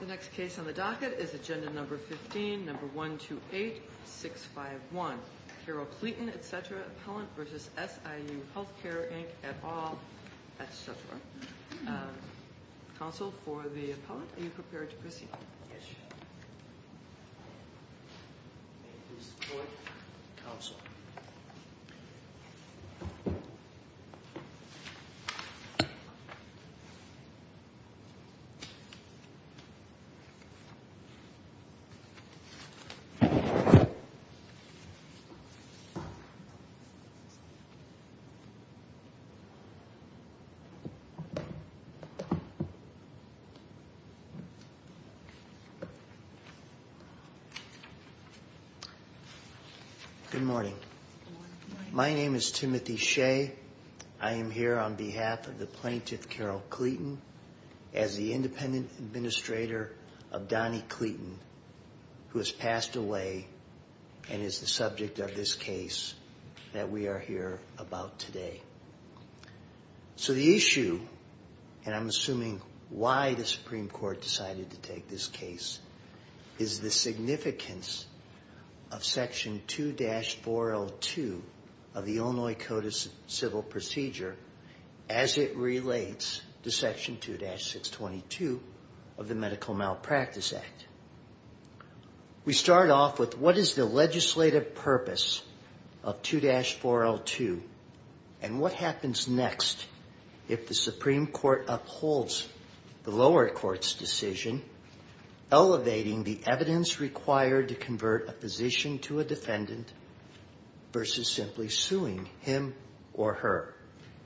The next case on the docket is Agenda No. 15, No. 128651. Carol Cleeton, etc., Appellant v. SIU Healthcare, Inc., et al, etc. Counsel for the Appellant, are you prepared to proceed? Yes, Your Honor. May it please the Court, Counsel. Good morning. My name is Timothy Shea. I am here on behalf of the Plaintiff, Carol Cleeton. As the Independent Administrator of Donny Cleeton, who has passed away, and is the subject of this case that we are here about today. So the issue, and I'm assuming why the Supreme Court decided to take this case, is the significance of Section 2-402 of the Illinois Code of Civil Procedure as it relates to Section 2-622 of the Medical Malpractice Act. We start off with what is the legislative purpose of 2-402 and what happens next if the Supreme Court upholds the lower court's decision elevating the evidence required to convert a physician to a defendant versus simply suing him or her.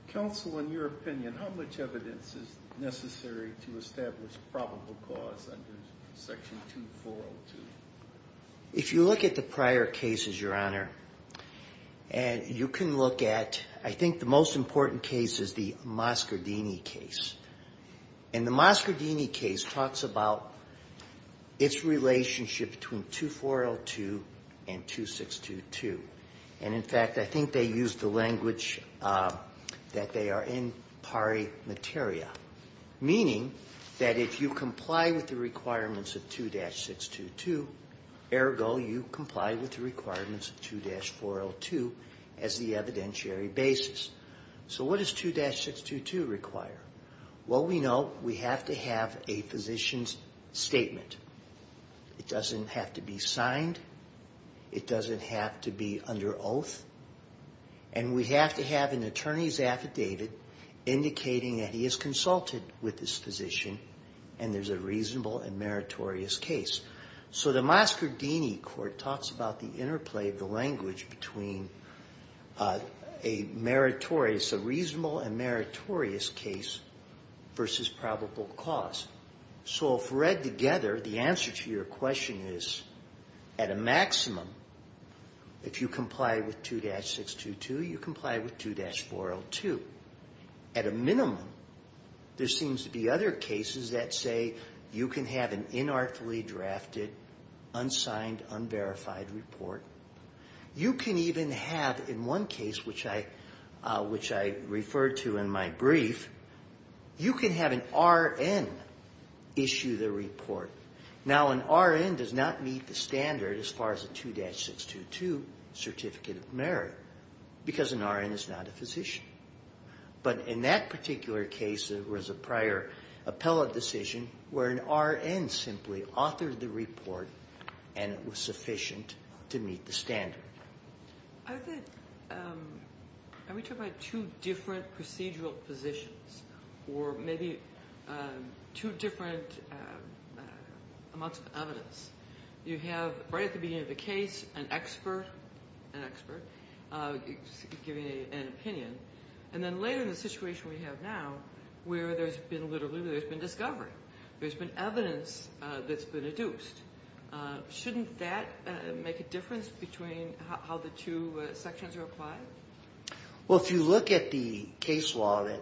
Counsel, in your opinion, how much evidence is necessary to establish probable cause under Section 2-402? If you look at the prior cases, Your Honor, and you can look at, I think the most important case is the Moscardini case. And the Moscardini case talks about its relationship between 2-402 and 2-622. And, in fact, I think they use the language that they are in pari materia, meaning that if you comply with the requirements of 2-622, ergo you comply with the requirements of 2-402 as the evidentiary basis. So what does 2-622 require? Well, we know we have to have a physician's statement. It doesn't have to be signed. It doesn't have to be under oath. And we have to have an attorney's affidavit indicating that he has consulted with this physician and there's a reasonable and meritorious case. So the Moscardini court talks about the interplay of the language between a meritorious, a reasonable and meritorious case versus probable cause. So if read together, the answer to your question is at a maximum, if you comply with 2-622, you comply with 2-402. At a minimum, there seems to be other cases that say you can have an inartfully drafted, unsigned, unverified report. You can even have in one case, which I referred to in my brief, you can have an RN issue the report. Now, an RN does not meet the standard as far as a 2-622 certificate of merit because an RN is not a physician. But in that particular case, there was a prior appellate decision where an RN simply authored the report and it was sufficient to meet the standard. I think we're talking about two different procedural positions or maybe two different amounts of evidence. You have, right at the beginning of the case, an expert giving an opinion. And then later in the situation we have now where there's been literally discovery. There's been evidence that's been deduced. Shouldn't that make a difference between how the two sections are applied? Well, if you look at the case law that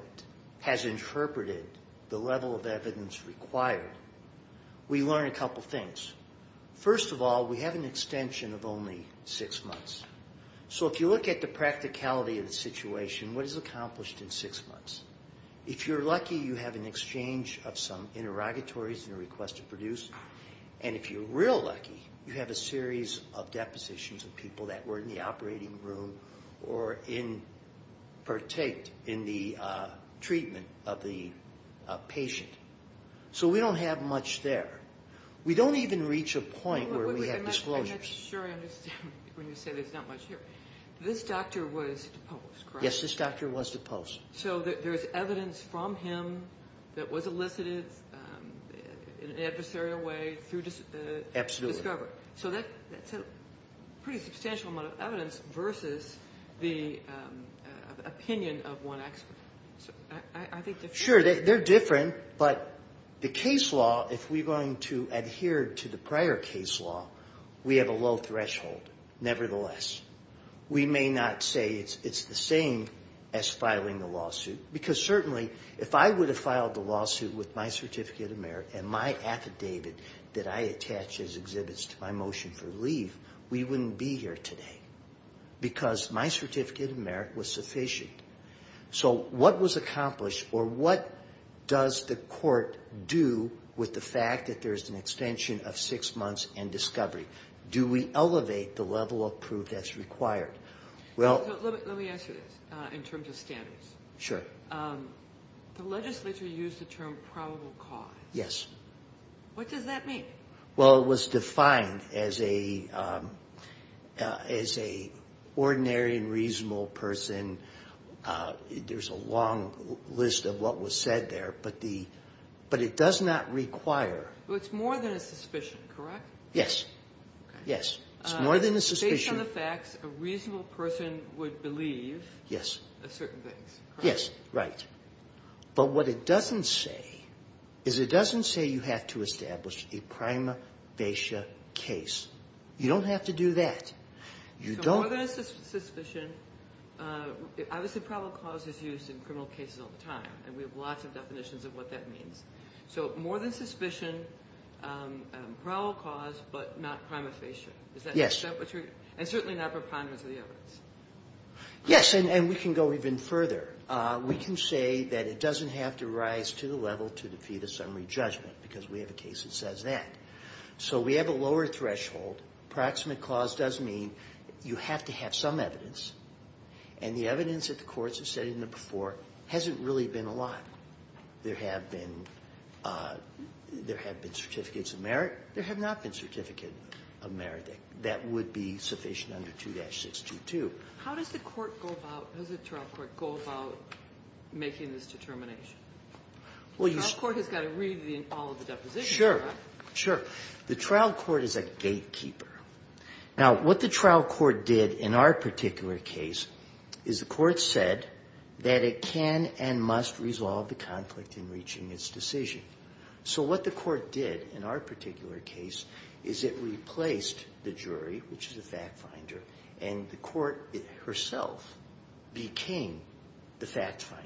has interpreted the level of evidence required, we learn a couple things. First of all, we have an extension of only six months. So if you look at the practicality of the situation, what is accomplished in six months? If you're lucky, you have an exchange of some interrogatories and a request to produce. And if you're real lucky, you have a series of depositions of people that were in the operating room or partake in the treatment of the patient. So we don't have much there. We don't even reach a point where we have disclosures. I'm not sure I understand when you say there's not much here. This doctor was deposed, correct? Yes, this doctor was deposed. So there's evidence from him that was elicited in an adversarial way through discovery. Absolutely. So that's a pretty substantial amount of evidence versus the opinion of one expert. I think they're different. Sure, they're different. But the case law, if we're going to adhere to the prior case law, we have a low threshold. Nevertheless, we may not say it's the same as filing the lawsuit, because certainly if I would have filed the lawsuit with my Certificate of Merit and my affidavit that I attach as exhibits to my motion for leave, we wouldn't be here today because my Certificate of Merit was sufficient. So what was accomplished, or what does the court do with the fact that there's an extension of six months and discovery? Do we elevate the level of proof that's required? Let me ask you this in terms of standards. Sure. The legislature used the term probable cause. Yes. What does that mean? Well, it was defined as a ordinary and reasonable person. There's a long list of what was said there, but it does not require. Well, it's more than a suspicion, correct? Yes. Okay. Yes, it's more than a suspicion. Based on the facts, a reasonable person would believe certain things, correct? Yes, right. But what it doesn't say is it doesn't say you have to establish a prima facie case. You don't have to do that. So more than a suspicion, obviously probable cause is used in criminal cases all the time, and we have lots of definitions of what that means. So more than suspicion, probable cause, but not prima facie. Yes. And certainly not preponderance of the evidence. Yes, and we can go even further. We can say that it doesn't have to rise to the level to defeat a summary judgment because we have a case that says that. So we have a lower threshold. Approximate cause does mean you have to have some evidence, and the evidence that the courts have said in the before hasn't really been a lot. There have been certificates of merit. There have not been certificates of merit that would be sufficient under 2-622. How does the trial court go about making this determination? The trial court has got to read all of the depositions, correct? Sure, sure. The trial court is a gatekeeper. Now, what the trial court did in our particular case is the court said that it can and must resolve the conflict in reaching its decision. So what the court did in our particular case is it replaced the jury, which is a fact finder, and the court herself became the fact finder.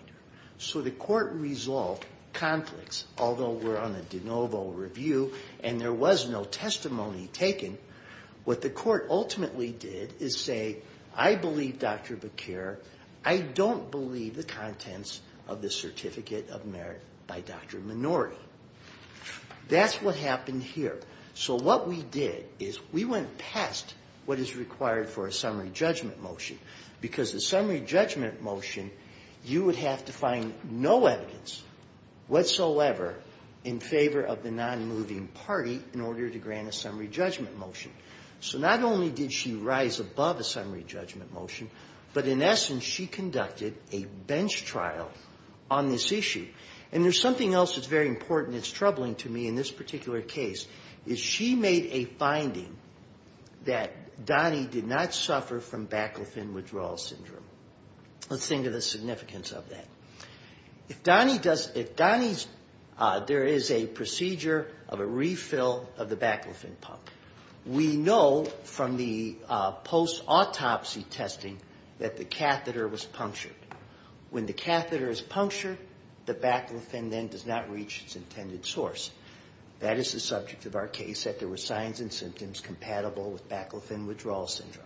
So the court resolved conflicts, although we're on a de novo review and there was no testimony taken. What the court ultimately did is say, I believe Dr. Bequer. I don't believe the contents of the certificate of merit by Dr. Minori. That's what happened here. So what we did is we went past what is required for a summary judgment motion, because the summary judgment motion, you would have to find no evidence whatsoever in favor of the nonmoving party in order to grant a summary judgment motion. So not only did she rise above a summary judgment motion, but in essence, she conducted a bench trial on this issue. And there's something else that's very important that's troubling to me in this particular case is she made a finding that Donnie did not suffer from Baclofen Withdrawal Syndrome. Let's think of the significance of that. If Donnie's, there is a procedure of a refill of the Baclofen pump. We know from the post-autopsy testing that the catheter was punctured. When the catheter is punctured, the Baclofen then does not reach its intended source. That is the subject of our case, that there were signs and symptoms compatible with Baclofen Withdrawal Syndrome.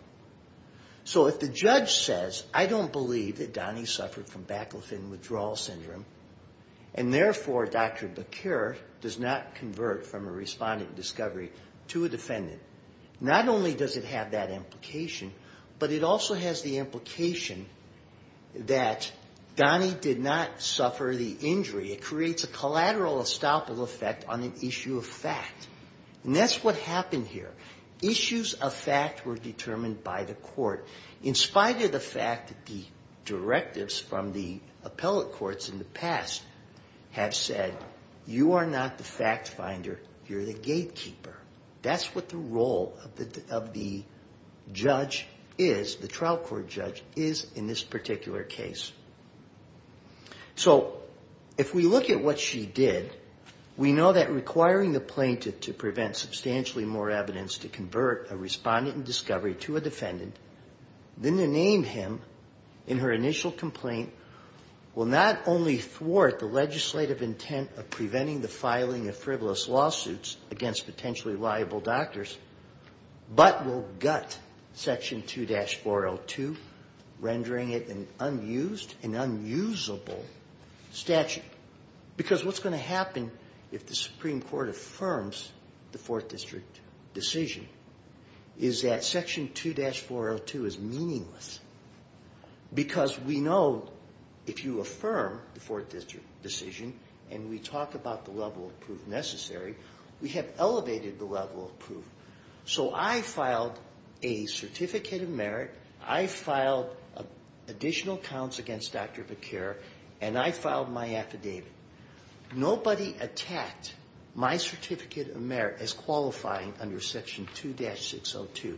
So if the judge says, I don't believe that Donnie suffered from Baclofen Withdrawal Syndrome, and therefore Dr. Bequer does not convert from a respondent discovery to a defendant, not only does it have that implication, but it also has the implication that Donnie did not suffer the injury. It creates a collateral estoppel effect on an issue of fact. And that's what happened here. Issues of fact were determined by the court. In spite of the fact that the directives from the appellate courts in the past have said, you are not the fact finder, you're the gatekeeper. That's what the role of the judge is, the trial court judge, is in this particular case. So if we look at what she did, we know that requiring the plaintiff to prevent substantially more evidence to convert a respondent in discovery to a defendant than to name him in her initial complaint will not only thwart the legislative intent of preventing the filing of frivolous lawsuits against potentially liable doctors, but will gut Section 2-402, rendering it an unused and unusable statute. Because what's going to happen if the Supreme Court affirms the Fourth District decision is that Section 2-402 is meaningless. Because we know if you affirm the Fourth District decision, and we talk about the level of proof necessary, we have elevated the level of proof. So I filed a Certificate of Merit, I filed additional counts against Dr. Becker, and I filed my affidavit. Nobody attacked my Certificate of Merit as qualifying under Section 2-602.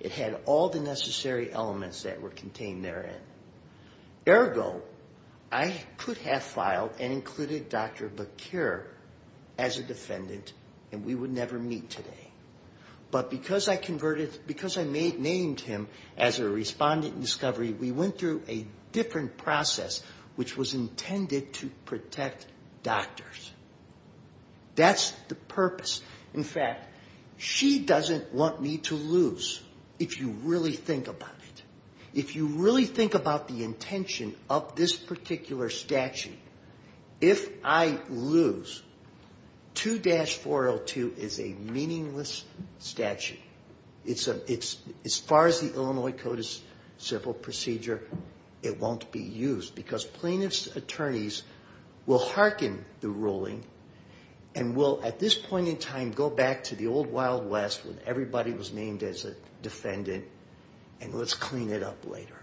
It had all the necessary elements that were contained therein. Ergo, I could have filed and included Dr. Becker as a defendant, and we would never meet today. But because I named him as a respondent in discovery, we went through a different process which was intended to protect doctors. That's the purpose. In fact, she doesn't want me to lose, if you really think about it. If you really think about the intention of this particular statute, if I lose, 2-402 is a meaningless statute. As far as the Illinois Code of Civil Procedure, it won't be used. Because plaintiff's attorneys will hearken the ruling and will, at this point in time, go back to the old Wild West when everybody was named as a defendant, and let's clean it up later.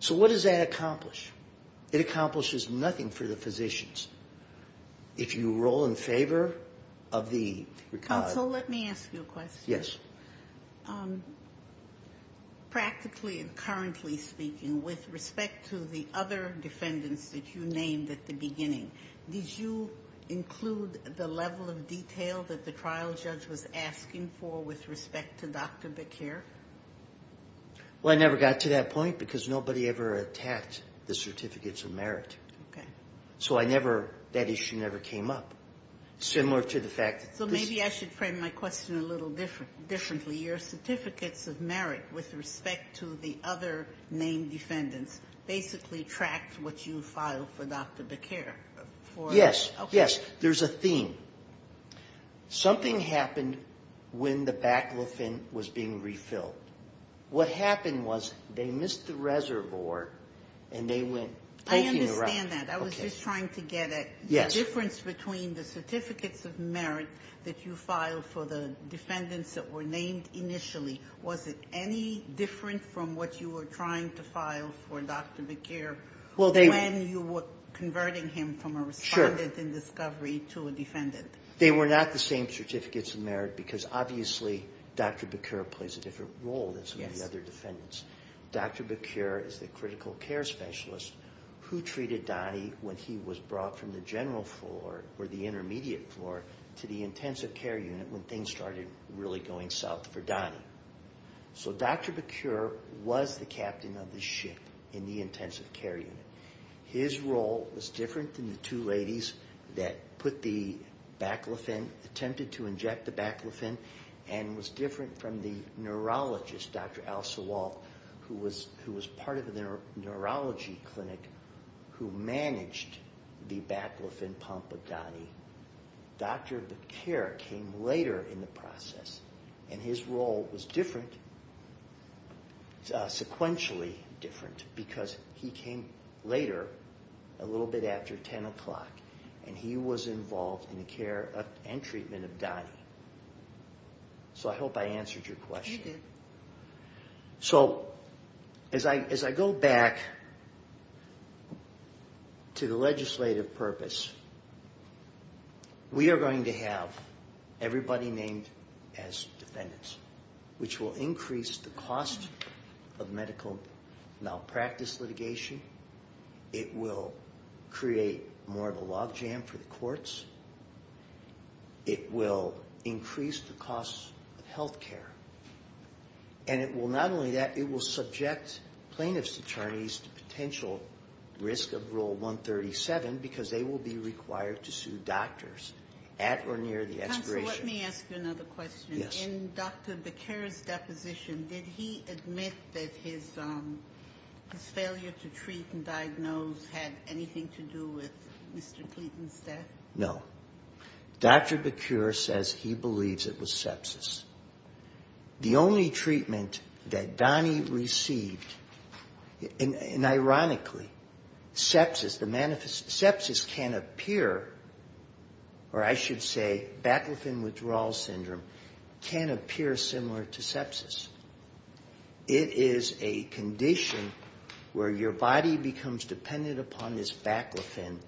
So what does that accomplish? It accomplishes nothing for the physicians. If you roll in favor of the record. Counsel, let me ask you a question. Yes. Practically and currently speaking, with respect to the other defendants that you named at the beginning, did you include the level of detail that the trial judge was asking for with respect to Dr. Becker? Well, I never got to that point because nobody ever attacked the certificates of merit. Okay. So I never, that issue never came up. Similar to the fact that this So maybe I should frame my question a little differently. Your certificates of merit with respect to the other named defendants basically tracked what you filed for Dr. Becker. Yes, yes. There's a theme. Something happened when the baclofen was being refilled. What happened was they missed the reservoir and they went poking around. I understand that. I was just trying to get a difference between the certificates of merit that you filed for the defendants that were named initially. Was it any different from what you were trying to file for Dr. Becker when you were converting him from a respondent in discovery to a defendant? They were not the same certificates of merit because obviously Dr. Becker plays a different role than some of the other defendants. Dr. Becker is the critical care specialist who treated Donnie when he was brought from the general floor or the intermediate floor to the intensive care unit when things started really going south for Donnie. So Dr. Becker was the captain of the ship in the intensive care unit. His role was different than the two ladies that put the baclofen, attempted to inject the baclofen, and was different from the neurologist, Dr. Al Sawalk, who was part of the neurology clinic who managed the baclofen pump of Donnie. Dr. Becker came later in the process, and his role was different, sequentially different, because he came later, a little bit after 10 o'clock, and he was involved in the care and treatment of Donnie. So I hope I answered your question. Yes, you did. So as I go back to the legislative purpose, we are going to have everybody named as defendants, which will increase the cost of medical malpractice litigation. It will create more of a logjam for the courts. It will increase the cost of health care. And it will not only that, it will subject plaintiff's attorneys to potential risk of Rule 137 because they will be required to sue doctors at or near the expiration. Counsel, let me ask you another question. In Dr. Becker's deposition, did he admit that his failure to treat and diagnose had anything to do with Mr. Cleeton's death? No. Dr. Becker says he believes it was sepsis. The only treatment that Donnie received, and ironically, sepsis can appear, or I should say, Baclofen Withdrawal Syndrome can appear similar to sepsis. It is a condition where your body becomes dependent upon this baclofen,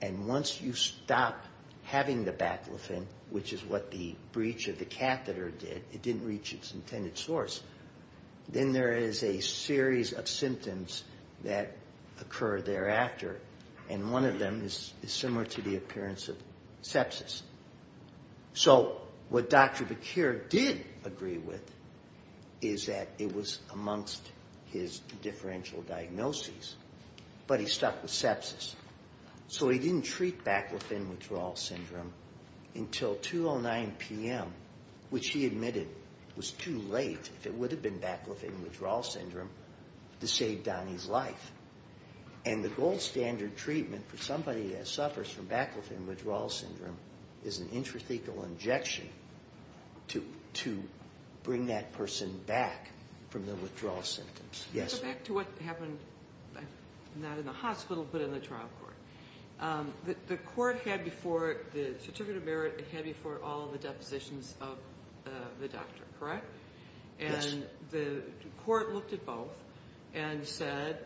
and once you stop having the baclofen, which is what the breach of the catheter did, it didn't reach its intended source, then there is a series of symptoms that occur thereafter, and one of them is similar to the appearance of sepsis. So what Dr. Becker did agree with is that it was amongst his differential diagnoses, but he stuck with sepsis. So he didn't treat Baclofen Withdrawal Syndrome until 2.09 p.m., which he admitted was too late, if it would have been Baclofen Withdrawal Syndrome, to save Donnie's life. And the gold standard treatment for somebody that suffers from Baclofen Withdrawal Syndrome is an intrathecal injection to bring that person back from the withdrawal symptoms. Let's go back to what happened, not in the hospital, but in the trial court. The court had before it, the certificate of merit, it had before it all of the depositions of the doctor, correct? Yes. And the court looked at both and said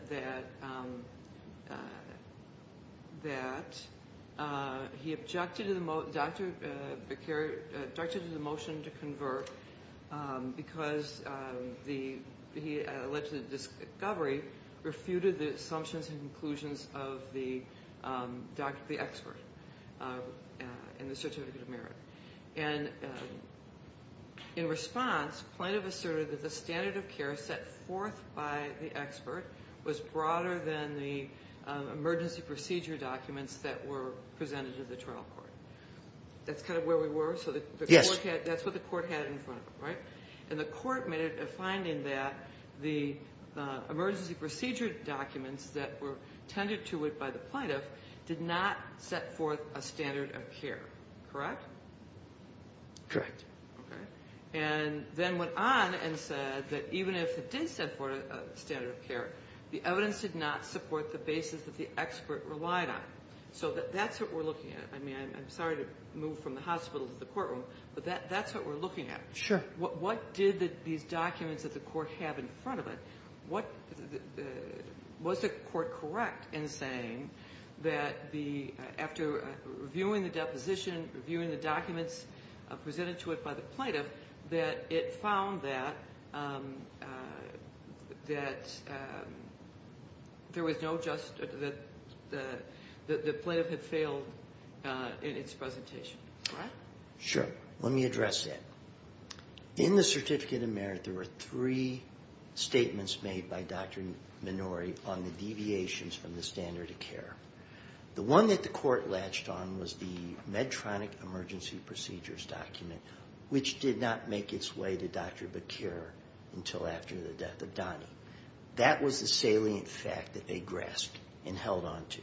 that he objected to the motion to convert because he, at a legislative discovery, refuted the assumptions and conclusions of the expert in the certificate of merit. And in response, plaintiff asserted that the standard of care set forth by the expert was broader than the emergency procedure documents that were presented to the trial court. That's kind of where we were? Yes. That's what the court had in front of it, right? And the court made a finding that the emergency procedure documents that were tended to it by the plaintiff did not set forth a standard of care, correct? Correct. And then went on and said that even if it did set forth a standard of care, the evidence did not support the basis that the expert relied on. So that's what we're looking at. I'm sorry to move from the hospital to the courtroom, but that's what we're looking at. Sure. What did these documents that the court had in front of it, was the court correct in saying that after reviewing the deposition, reviewing the documents presented to it by the plaintiff, that it found that the plaintiff had failed in its presentation? Correct? Sure. Let me address that. In the Certificate of Merit, there were three statements made by Dr. Minori on the deviations from the standard of care. The one that the court latched on was the Medtronic emergency procedures document, which did not make its way to Dr. Bakir until after the death of Donnie. That was the salient fact that they grasped and held on to.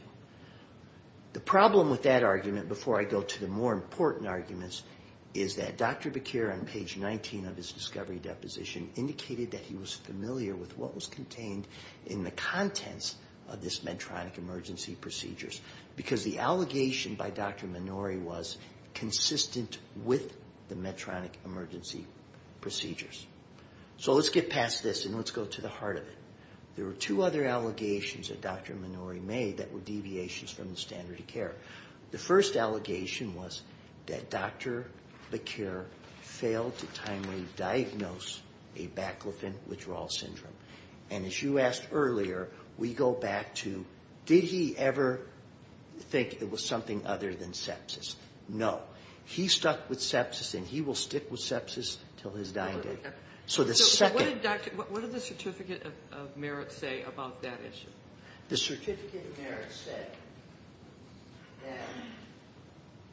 The problem with that argument, before I go to the more important arguments, is that Dr. Bakir on page 19 of his discovery deposition indicated that he was familiar with what was contained in the contents of this Medtronic emergency procedures because the allegation by Dr. Minori was consistent with the Medtronic emergency procedures. So let's get past this and let's go to the heart of it. There were two other allegations that Dr. Minori made that were deviations from the standard of care. The first allegation was that Dr. Bakir failed to timely diagnose a baclofen withdrawal syndrome. And as you asked earlier, we go back to Did he ever think it was something other than sepsis? No. He stuck with sepsis and he will stick with sepsis until his dying day. So the second So what did the certificate of merit say about that issue? The certificate of merit said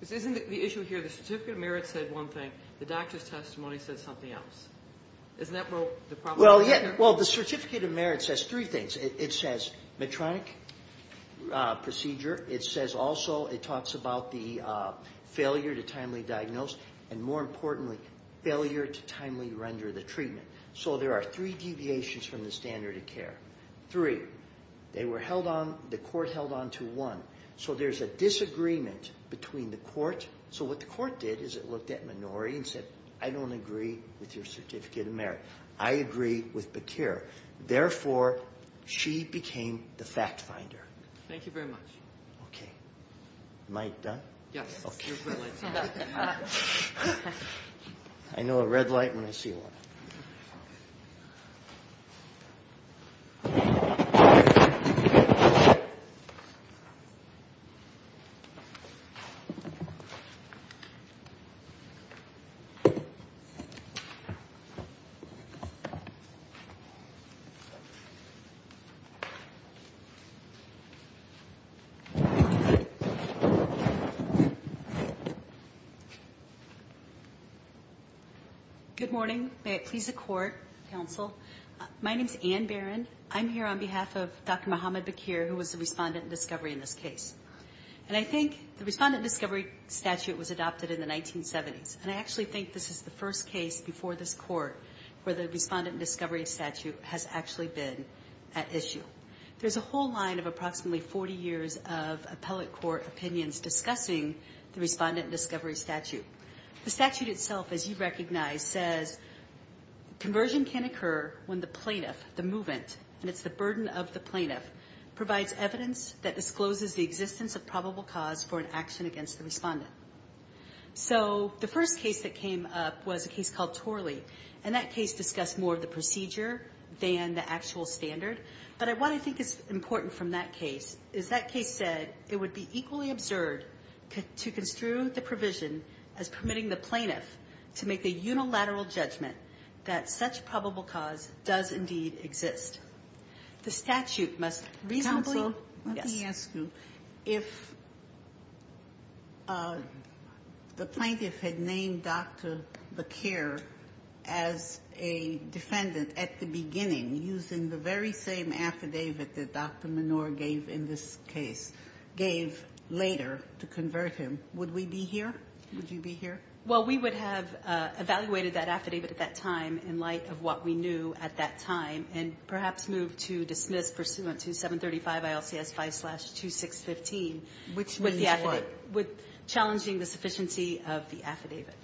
that Isn't the issue here, the certificate of merit said one thing, the doctor's testimony said something else. Isn't that where the problem is? Well, the certificate of merit says three things. It says Medtronic procedure. It says also it talks about the failure to timely diagnose and more importantly failure to timely render the treatment. So there are three deviations from the standard of care. Three, they were held on, the court held on to one. So there's a disagreement between the court. So what the court did is it looked at Minori and said I don't agree with your certificate of merit. I agree with Bakir. Therefore, she became the fact finder. Thank you very much. Okay. Am I done? Yes. Okay. You're brilliant. I know a red light when I see one. Good morning. May it please the court, counsel. My name is Ann Barron. I'm here on behalf of Dr. Muhammad Bakir, who was the respondent in discovery in this case. And I think the respondent discovery statute was adopted in the 1970s, and I actually think this is the first case before this court where the respondent discovery statute has actually been at issue. There's a whole line of approximately 40 years of appellate court opinions discussing the respondent discovery statute. The statute itself, as you recognize, says conversion can occur when the plaintiff, the movement, and it's the burden of the plaintiff, provides evidence that discloses the existence of probable cause for an action against the respondent. So the first case that came up was a case called Torley, and that case discussed more of the procedure than the actual standard. But what I think is important from that case is that case said it would be equally absurd to construe the provision as permitting the plaintiff to make a unilateral judgment that such probable cause does indeed exist. The statute must reasonably... The plaintiff had named Dr. Baquer as a defendant at the beginning, using the very same affidavit that Dr. Menor gave in this case, gave later to convert him. Would we be here? Would you be here? Well, we would have evaluated that affidavit at that time in light of what we knew at that time and perhaps moved to dismiss pursuant to 735 ILCS 5-2615, which means what? Challenging the sufficiency of the affidavit.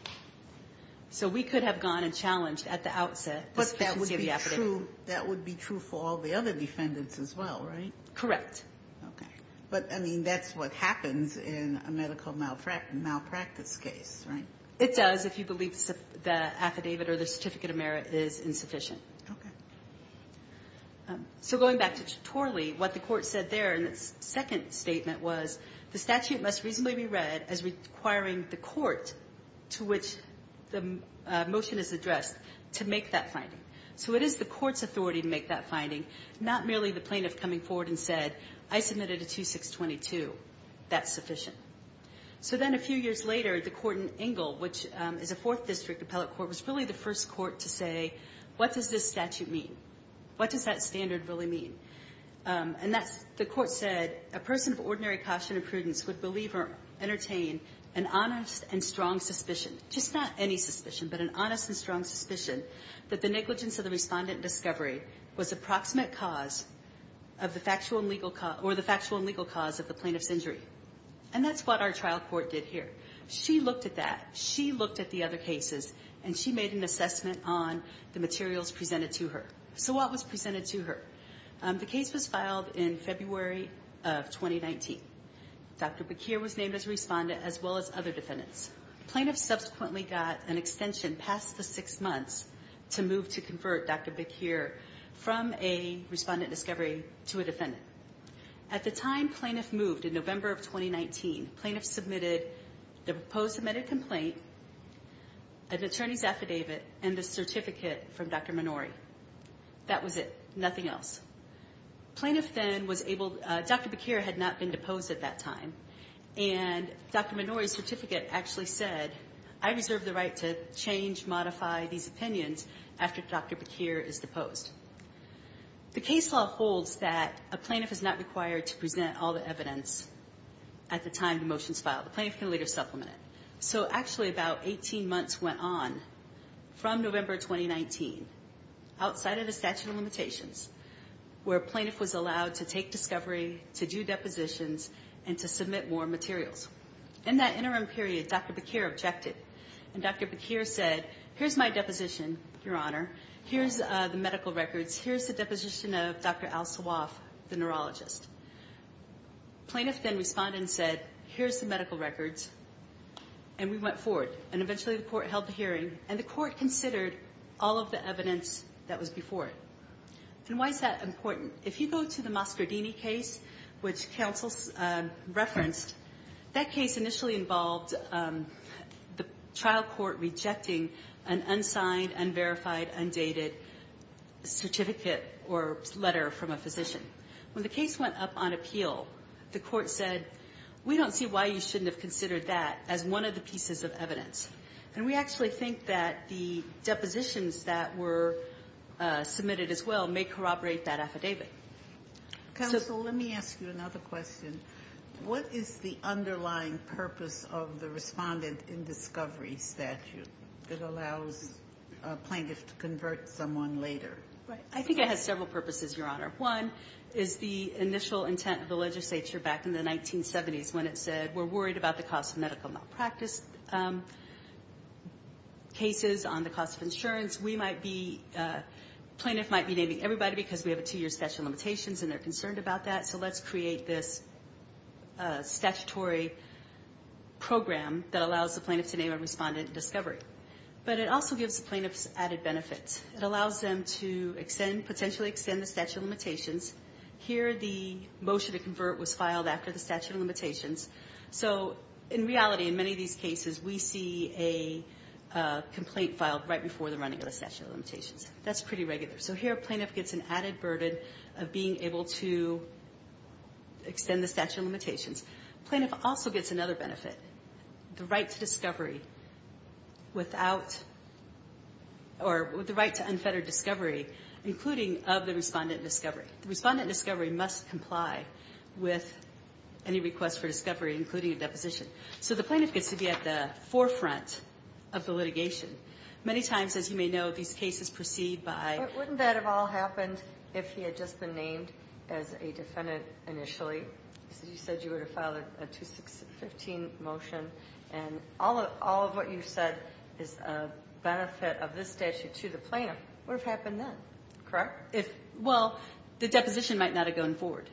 So we could have gone and challenged at the outset the sufficiency of the affidavit. But that would be true for all the other defendants as well, right? Correct. Okay. But, I mean, that's what happens in a medical malpractice case, right? It does if you believe the affidavit or the certificate of merit is insufficient. Okay. So going back to Torley, what the court said there in its second statement was the statute must reasonably be read as requiring the court to which the motion is addressed to make that finding. So it is the court's authority to make that finding, not merely the plaintiff coming forward and said, I submitted a 2622. That's sufficient. So then a few years later, the court in Engle, which is a fourth district appellate court, was really the first court to say, what does this statute mean? What does that standard really mean? And that's, the court said, a person of ordinary caution and prudence would believe or entertain an honest and strong suspicion, just not any suspicion, but an honest and strong suspicion, that the negligence of the respondent in discovery was approximate cause of the factual and legal cause of the plaintiff's injury. And that's what our trial court did here. She looked at that. She looked at the other cases. And she made an assessment on the materials presented to her. So what was presented to her? The case was filed in February of 2019. Dr. Bakir was named as a respondent, as well as other defendants. Plaintiffs subsequently got an extension past the six months to move to convert Dr. Bakir from a respondent in discovery to a defendant. At the time plaintiff moved in November of 2019, plaintiffs submitted the proposed amended complaint, an attorney's affidavit, and the certificate from Dr. Minori. That was it, nothing else. Plaintiff then was able, Dr. Bakir had not been deposed at that time, and Dr. Minori's certificate actually said, I reserve the right to change, modify these opinions after Dr. Bakir is deposed. The case law holds that a plaintiff is not required to present all the evidence at the time the motion's filed. The plaintiff can later supplement it. So actually about 18 months went on from November 2019, outside of the statute of limitations, where plaintiff was allowed to take discovery, to do depositions, and to submit more materials. In that interim period, Dr. Bakir objected, and Dr. Bakir said, here's my deposition, Your Honor, here's the medical records, here's the deposition of Dr. Al Sawaf, the neurologist. Plaintiff then responded and said, here's the medical records, and we went forward. And eventually the court held the hearing, and the court considered all of the evidence that was before it. And why is that important? If you go to the Moscardini case, which counsel referenced, that case initially involved the trial court rejecting an unsigned, unverified, undated certificate or letter from a physician. When the case went up on appeal, the court said, we don't see why you shouldn't have considered that as one of the pieces of evidence. And we actually think that the depositions that were submitted as well may corroborate that affidavit. Counsel, let me ask you another question. What is the underlying purpose of the respondent in discovery statute that allows a plaintiff to convert someone later? I think it has several purposes, Your Honor. One is the initial intent of the legislature back in the 1970s when it said, we're worried about the cost of medical malpractice cases, on the cost of insurance. We might be, plaintiff might be naming everybody because we have a two-year statute of limitations, and they're concerned about that, so let's create this statutory program that allows the plaintiff to name a respondent in discovery. But it also gives the plaintiffs added benefits. It allows them to potentially extend the statute of limitations. Here, the motion to convert was filed after the statute of limitations. So in reality, in many of these cases, we see a complaint filed right before the running of the statute of limitations. That's pretty regular. So here, a plaintiff gets an added burden of being able to extend the statute of limitations. Plaintiff also gets another benefit, the right to discovery without, or the right to unfettered discovery, including of the respondent in discovery. The respondent in discovery must comply with any request for discovery, including a deposition. So the plaintiff gets to be at the forefront of the litigation. Many times, as you may know, these cases proceed by... But wouldn't that have all happened if he had just been named as a defendant initially? You said you would have filed a 215 motion, and all of what you said is a benefit of this statute to the plaintiff. What would have happened then? Well, the deposition might not have gone forward.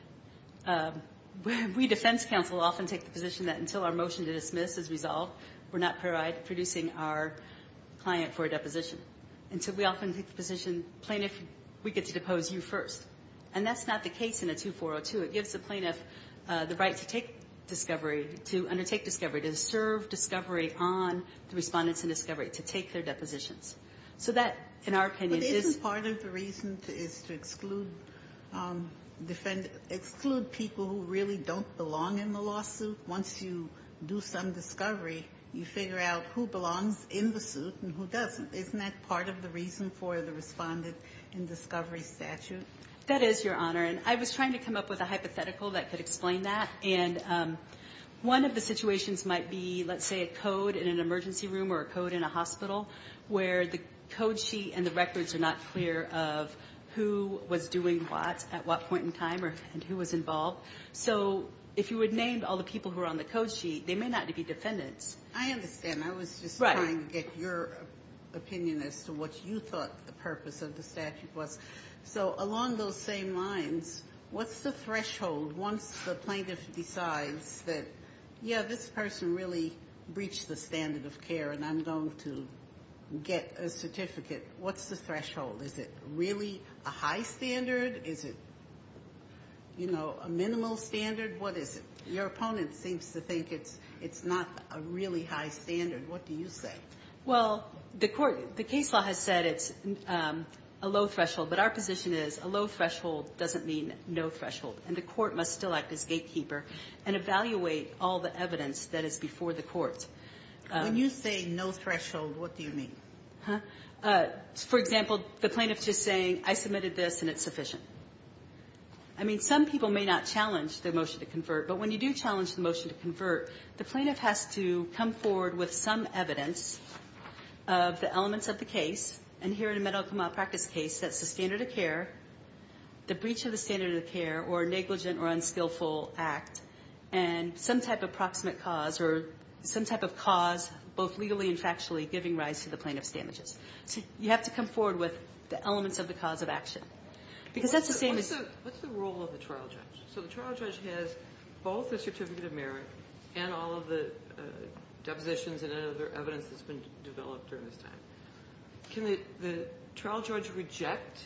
We, defense counsel, often take the position that until our motion to dismiss is resolved, we're not producing our client for a deposition. And so we often take the position, plaintiff, we get to depose you first. And that's not the case in a 2402. It gives the plaintiff the right to undertake discovery, to serve discovery on the respondents in discovery, to take their depositions. So that, in our opinion, is... But isn't part of the reason is to exclude people who really don't belong in the lawsuit? Once you do some discovery, you figure out who belongs in the suit and who doesn't. Isn't that part of the reason for the respondent in discovery statute? That is, Your Honor. And I was trying to come up with a hypothetical that could explain that. And one of the situations might be, let's say, a code in an emergency room or a code in a hospital where the code sheet and the records are not clear of who was doing what at what point in time and who was involved. So if you would name all the people who are on the code sheet, they may not be defendants. I understand. I was just trying to get your opinion as to what you thought the purpose of the statute was. So along those same lines, what's the threshold once the plaintiff decides that, yeah, this person really breached the standard of care and I'm going to get a certificate? What's the threshold? Is it really a high standard? Is it, you know, a minimal standard? What is it? Your opponent seems to think it's not a really high standard. What do you say? Well, the case law has said it's a low threshold, but our position is a low threshold doesn't mean no threshold, and the court must still act as gatekeeper and evaluate all the evidence that is before the court. When you say no threshold, what do you mean? For example, the plaintiff is just saying, I submitted this and it's sufficient. I mean, some people may not challenge the motion to convert, but when you do challenge the motion to convert, the plaintiff has to come forward with some evidence of the elements of the case, and here in a medical malpractice case that's the standard of care, the breach of the standard of care, or negligent or unskillful act, and some type of proximate cause or some type of cause, both legally and factually, giving rise to the plaintiff's damages. So you have to come forward with the elements of the cause of action. What's the role of the trial judge? So the trial judge has both the certificate of merit and all of the depositions and other evidence that's been developed during this time. Can the trial judge reject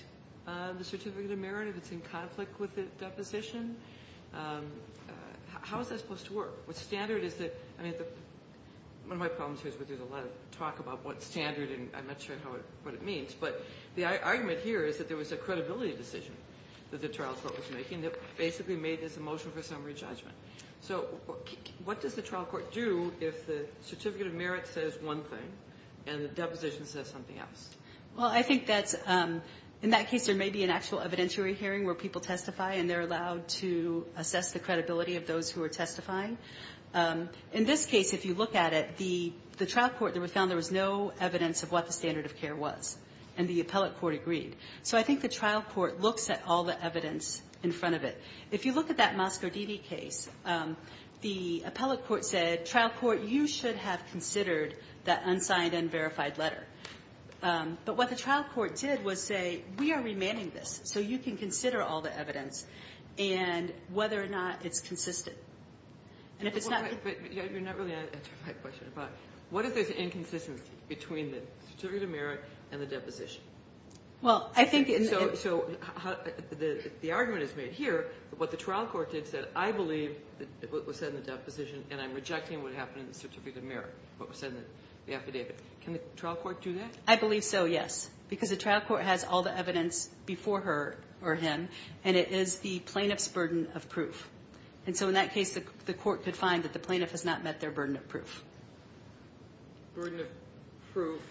the certificate of merit if it's in conflict with the deposition? How is that supposed to work? What standard is it? One of my problems here is there's a lot of talk about what standard and I'm not sure what it means, but the argument here is that there was a credibility decision that the trial court was making that basically made this a motion for summary judgment. So what does the trial court do if the certificate of merit says one thing and the deposition says something else? Well, I think that's... In that case, there may be an actual evidentiary hearing where people testify and they're allowed to assess the credibility of those who are testifying. In this case, if you look at it, the trial court found there was no evidence of what the standard of care was, and the appellate court agreed. So I think the trial court looks at all the evidence in front of it. If you look at that Mascardidi case, the appellate court said, that unsigned and verified letter. But what the trial court did was say, we are remanding this, so you can consider all the evidence and whether or not it's consistent. And if it's not... But you're not really answering my question. What is this inconsistency between the certificate of merit and the deposition? Well, I think... So the argument is made here, what the trial court did said, I believe what was said in the deposition and I'm rejecting what happened in the certificate of merit, what was said in the affidavit. Can the trial court do that? I believe so, yes. Because the trial court has all the evidence before her or him, and it is the plaintiff's burden of proof. And so in that case, the court could find that the plaintiff has not met their burden of proof. Burden of proof...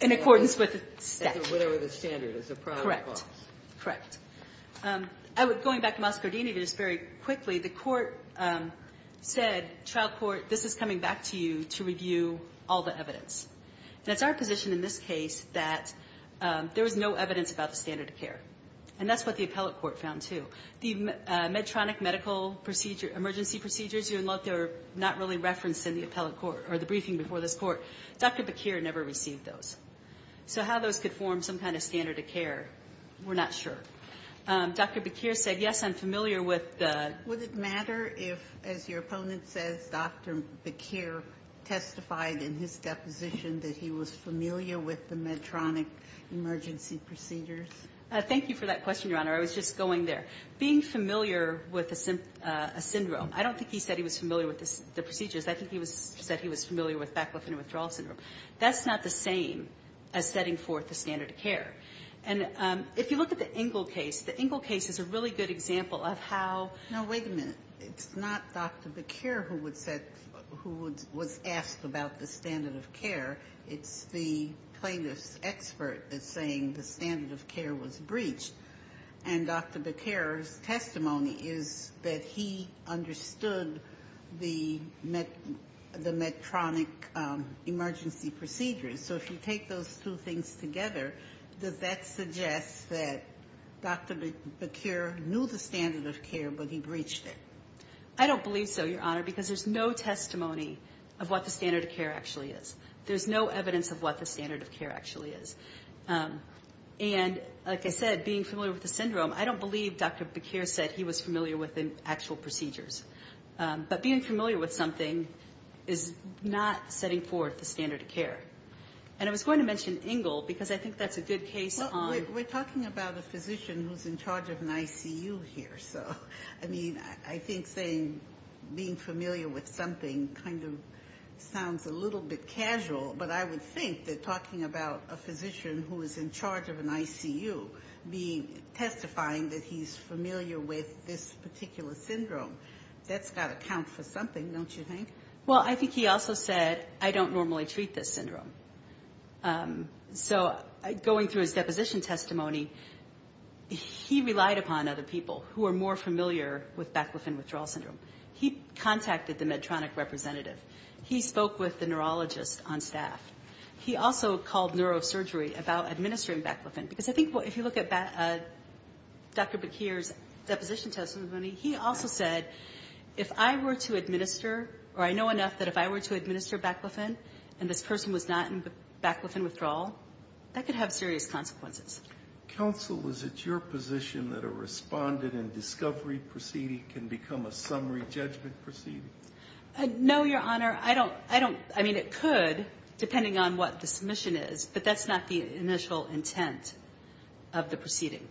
In accordance with the statute. Whatever the standard is. Correct. Going back to Mascardini, just very quickly, the court said, trial court, this is coming back to you to review all the evidence. And it's our position in this case that there was no evidence about the standard of care. And that's what the appellate court found too. The Medtronic medical emergency procedures, even though they're not really referenced in the appellate court or the briefing before this court, Dr. Bakir never received those. So how those could form some kind of standard of care, we're not sure. Dr. Bakir said, yes, I'm familiar with the... Would it matter if, as your opponent says, Dr. Bakir testified in his deposition that he was familiar with the Medtronic emergency procedures? Thank you for that question, Your Honor. I was just going there. Being familiar with a syndrome, I don't think he said he was familiar with the procedures. I think he said he was familiar with back-lymphatic withdrawal syndrome. That's not the same as setting forth the standard of care. And if you look at the Engel case, the Engel case is a really good example of how... No, wait a minute. It's not Dr. Bakir who was asked about the standard of care. It's the plaintiff's expert that's saying the standard of care was breached. And Dr. Bakir's testimony is that he understood the Medtronic emergency procedures. So if you take those two things together, does that suggest that Dr. Bakir knew the standard of care but he breached it? I don't believe so, Your Honor, because there's no testimony of what the standard of care actually is. There's no evidence of what the standard of care actually is. And like I said, being familiar with the syndrome, I don't believe Dr. Bakir said he was familiar with the actual procedures. But being familiar with something is not setting forth the standard of care. And I was going to mention Engel because I think that's a good case on... We're talking about a physician who's in charge of an ICU here. So, I mean, I think saying being familiar with something kind of sounds a little bit casual. But I would think that talking about a physician who is in charge of an ICU testifying that he's familiar with this particular syndrome, that's got to count for something, don't you think? So, going through his deposition testimony, he relied upon other people who are more familiar with Baclofen withdrawal syndrome. He contacted the Medtronic representative. He spoke with the neurologist on staff. He also called neurosurgery about administering Baclofen because I think if you look at Dr. Bakir's deposition testimony, he also said, if I were to administer, or I know enough that if I were to administer Baclofen and this person was not in Baclofen withdrawal, that could have serious consequences. Counsel, is it your position that a respondent in discovery proceeding can become a summary judgment proceeding? No, Your Honor, I don't... I mean, it could, depending on what the submission is, but that's not the initial intent of the proceeding.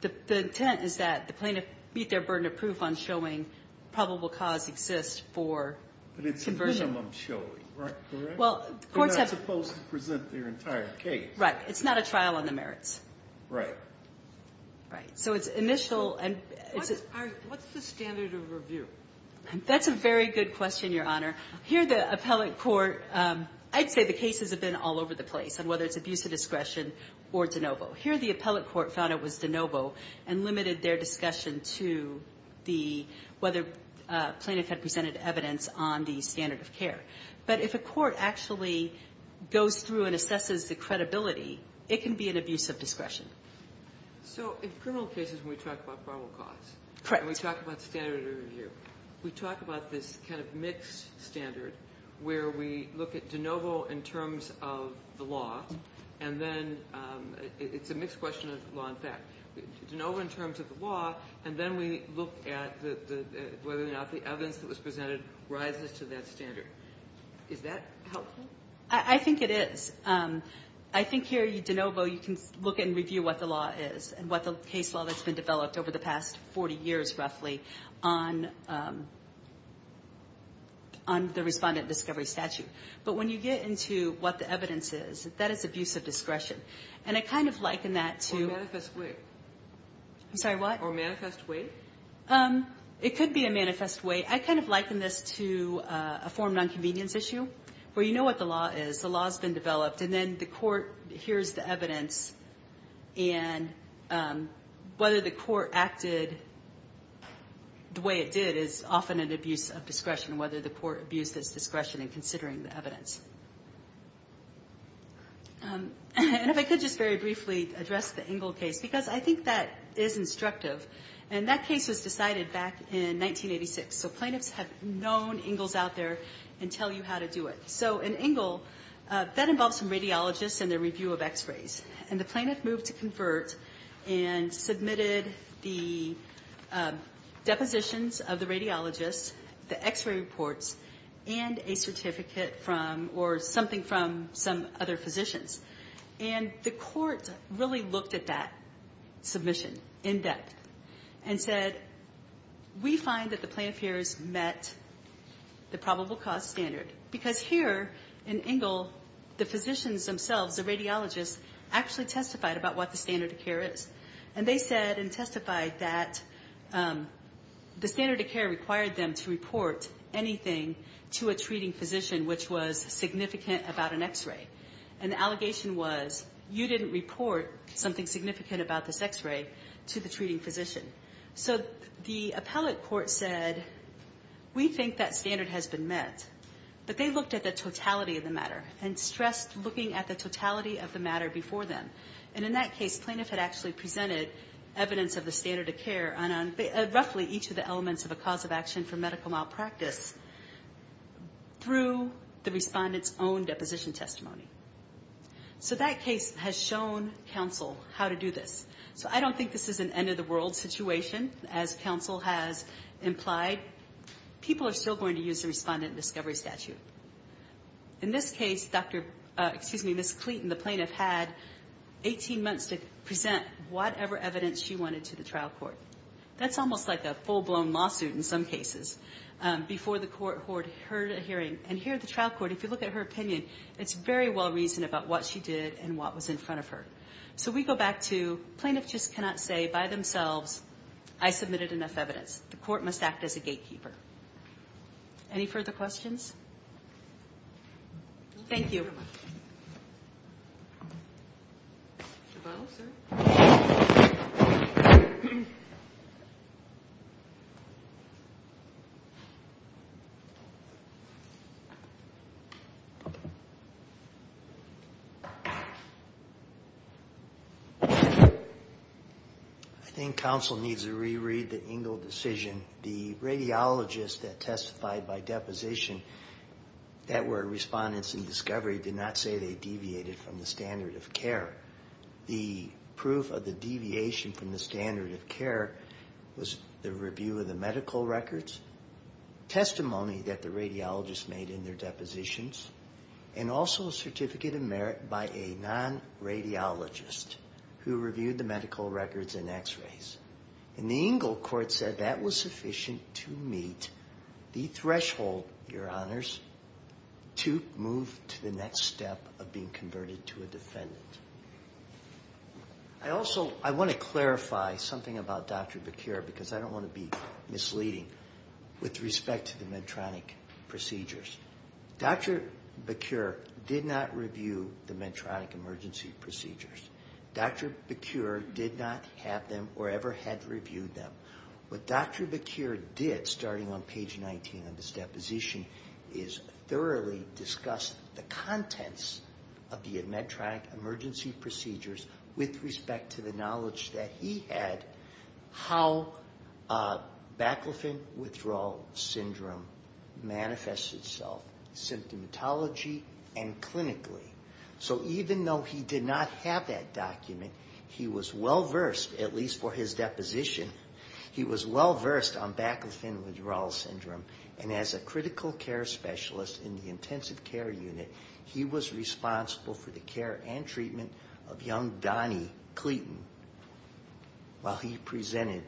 The intent is that the plaintiff meet their burden of proof on showing probable cause exists for conversion. But it's presumption, correct? Well, courts have... They're not supposed to present their entire case. Right, it's not a trial on the merits. Right. Right, so it's initial... What's the standard of review? That's a very good question, Your Honor. Here, the appellate court... I'd say the cases have been all over the place, and whether it's abuse of discretion or de novo. Here, the appellate court found it was de novo and limited their discussion to the... standard of care. But if a court actually goes through and assesses the credibility, it can be an abuse of discretion. So in criminal cases when we talk about probable cause... Correct. ...and we talk about standard of review, we talk about this kind of mixed standard where we look at de novo in terms of the law, and then it's a mixed question of law and fact. De novo in terms of the law, and then we look at whether or not the evidence that was presented rises to that standard. Is that helpful? I think it is. I think here, de novo, you can look and review what the law is and what the case law that's been developed over the past 40 years roughly on the respondent discovery statute. But when you get into what the evidence is, that is abuse of discretion. And I kind of liken that to... Or manifest way. I'm sorry, what? Or manifest way. It could be a manifest way. I kind of liken this to a form of nonconvenience issue where you know what the law is, the law's been developed, and then the court hears the evidence and whether the court acted the way it did is often an abuse of discretion, whether the court abused its discretion in considering the evidence. And if I could just very briefly address the Engle case, because I think that is instructive. And that case was decided back in 1986. So plaintiffs have known Engle's out there and tell you how to do it. So in Engle, that involves some radiologists and their review of x-rays. And the plaintiff moved to convert and submitted the depositions of the radiologists, the x-ray reports, and a certificate from or something from some other physicians. And the court really looked at that submission in depth and said, we find that the plaintiff here has met the probable cause standard. Because here in Engle, the physicians themselves, the radiologists, actually testified about what the standard of care is. And they said and testified that the standard of care required them to report anything to a treating physician which was significant about an x-ray. And the allegation was, you didn't report something significant about this x-ray to the treating physician. So the appellate court said, we think that standard has been met. But they looked at the totality of the matter and stressed looking at the totality of the matter before them. And in that case, plaintiff had actually presented evidence of the standard of care on roughly each of the elements of a cause of action for medical malpractice through the respondent's own deposition testimony. So that case has shown counsel how to do this. So I don't think this is an end-of-the-world situation, as counsel has implied. People are still going to use the respondent discovery statute. In this case, Ms. Cleeton, the plaintiff, had 18 months to present whatever evidence she wanted to the trial court. That's almost like a full-blown lawsuit in some cases. Before the court heard a hearing. And here at the trial court, if you look at her opinion, it's very well-reasoned about what she did and what was in front of her. So we go back to, plaintiff just cannot say by themselves, I submitted enough evidence. The court must act as a gatekeeper. Any further questions? Thank you. I think counsel needs to re-read the Engel decision. The radiologists that testified by deposition that were respondents in discovery did not say they deviated from the standard of care. The proof of the deviation from the standard of care The review of the medical records. Testimony that the radiologists made in their depositions. And also a certificate of merit by a non-radiologist who reviewed the medical records and x-rays. And the Engel court said that was sufficient to meet the threshold, your honors, to move to the next step of being converted to a defendant. I also, I want to clarify something about Dr. Becure, because I don't want to be misleading with respect to the Medtronic procedures. Dr. Becure did not review the Medtronic emergency procedures. Dr. Becure did not have them or ever had reviewed them. What Dr. Becure did, starting on page 19 of his deposition, is thoroughly discuss the contents of the Medtronic emergency procedures with respect to the knowledge that he had, how Baclofen Withdrawal Syndrome manifested itself, symptomatology and clinically. So even though he did not have that document, he was well-versed, at least for his deposition, he was well-versed on Baclofen Withdrawal Syndrome. And as a critical care specialist in the intensive care unit, he was responsible for the care and treatment of young Donny Clayton while he presented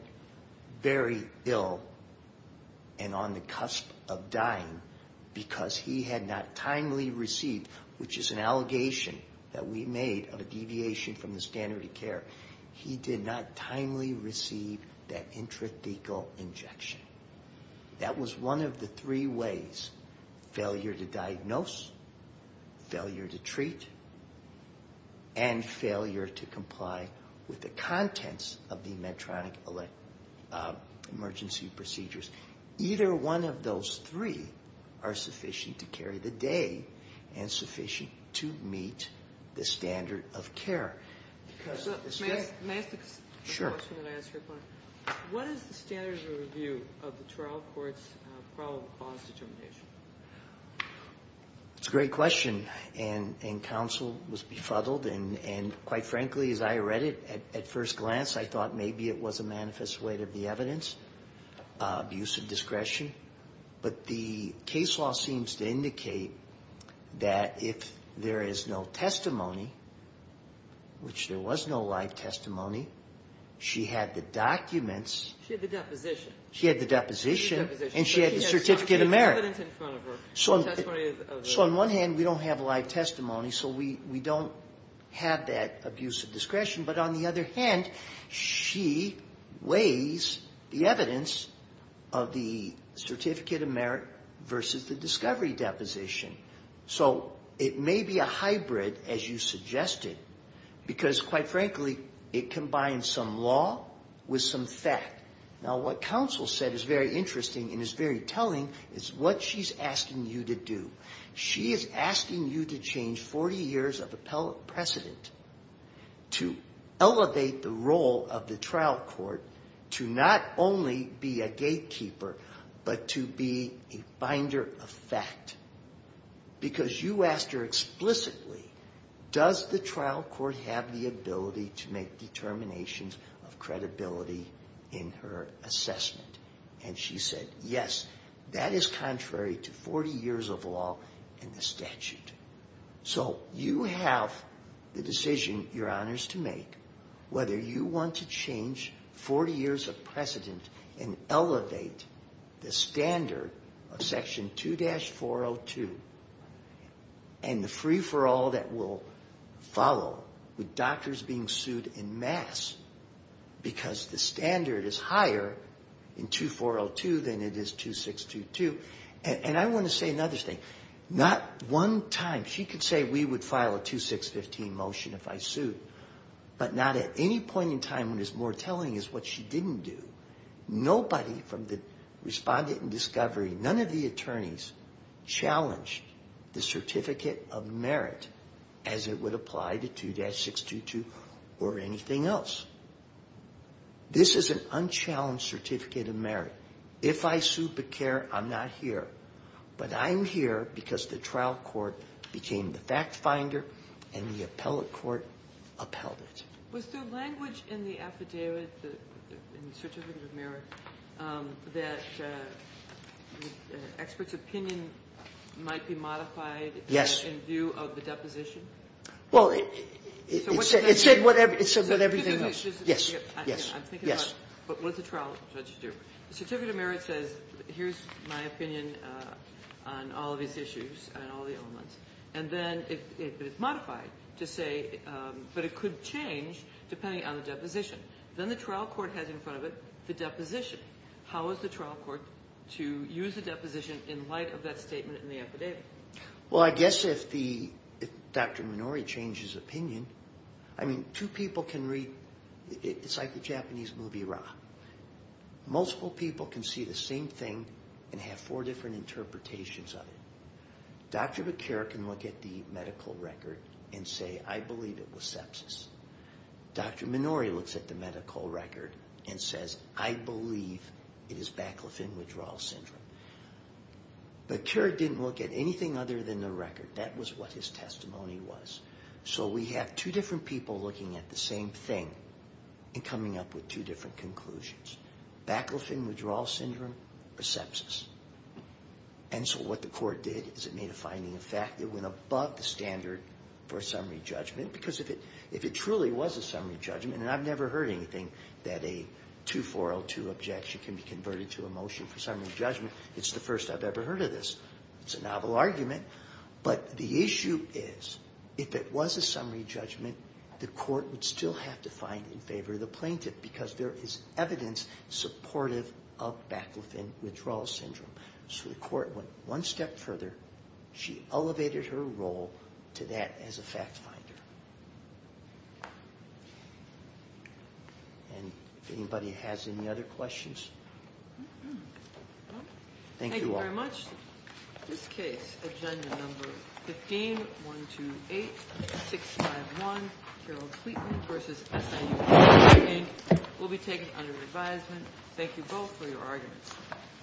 very ill and on the cusp of dying because he had not timely received, which is an allegation that we made of a deviation from the standard of care, he did not timely receive that intrathecal injection. That was one of the three ways. Failure to diagnose, failure to treat, and failure to comply with the contents of the Medtronic emergency procedures. Either one of those three are sufficient to carry the day and sufficient to meet the standard of care. May I ask a question that I asked your opponent? What is the standard of review of the trial court's probable cause determination? It's a great question. And counsel was befuddled, and quite frankly, as I read it at first glance, I thought maybe it was a manifest way to be evidence of use of discretion. But the case law seems to indicate that if there is no testimony, which there was no live testimony, she had the documents. She had the deposition. She had the deposition. She had the deposition. And she had the certificate of merit. So she has evidence in front of her. So on one hand, we don't have live testimony, so we don't have that abuse of discretion. But on the other hand, she weighs the evidence of the certificate of merit versus the discovery deposition. So it may be a hybrid, as you suggested, because quite frankly it combines some law with some fact. Now what counsel said is very interesting and is very telling is what she's asking you to do. She is asking you to change 40 years of appellate precedent to elevate the role of the trial court to not only be a gatekeeper, but to be a finder of fact. Because you asked her explicitly, does the trial court have the ability to make determinations of credibility in her assessment? And she said, yes, that is contrary to 40 years of law and the statute. So you have the decision, Your Honors, to make whether you want to change 40 years of precedent and elevate the standard of Section 2-402 and the free-for-all that will follow with doctors being sued en masse because the standard is higher in 2-402 than it is 2-622. And I want to say another thing. Not one time she could say we would file a 2-615 motion if I sued, but not at any point in time when it's more telling is what she didn't do. Nobody from the respondent and discovery, none of the attorneys, challenged the certificate of merit as it would apply to 2-622 or anything else. This is an unchallenged certificate of merit. If I sue Becker, I'm not here. But I'm here because the trial court became the fact finder and the appellate court upheld it. Was there language in the affidavit, in the certificate of merit, that the expert's opinion might be modified in view of the deposition? Well, it said what everything else. Yes, yes, yes. But what does the trial judge do? The certificate of merit says here's my opinion on all of these issues and all the elements, and then it's modified to say, but it could change depending on the deposition. Then the trial court has in front of it the deposition. How is the trial court to use the deposition in light of that statement in the affidavit? Well, I guess if Dr. Minori changes his opinion, I mean, two people can read, it's like the Japanese movie Ra. Multiple people can see the same thing and have four different interpretations of it. Dr. Becker can look at the medical record and say, I believe it was sepsis. Dr. Minori looks at the medical record and says, I believe it is baclofen withdrawal syndrome. But Keurig didn't look at anything other than the record. That was what his testimony was. So we have two different people looking at the same thing and coming up with two different conclusions. Baclofen withdrawal syndrome or sepsis. And so what the court did is it made a finding of fact that went above the standard for a summary judgment because if it truly was a summary judgment, and I've never heard anything that a 2402 objection can be converted to a motion for summary judgment, it's the first I've ever heard of this. It's a novel argument, but the issue is if it was a summary judgment, the court would still have to find in favor of the plaintiff because there is evidence supportive of baclofen withdrawal syndrome. So the court went one step further. She elevated her role to that as a fact finder. And if anybody has any other questions? Thank you all. Thank you very much. This case, agenda number 15-128651, Carol Cleeton v. S.I.U., will be taken under advisement. Thank you both for your arguments.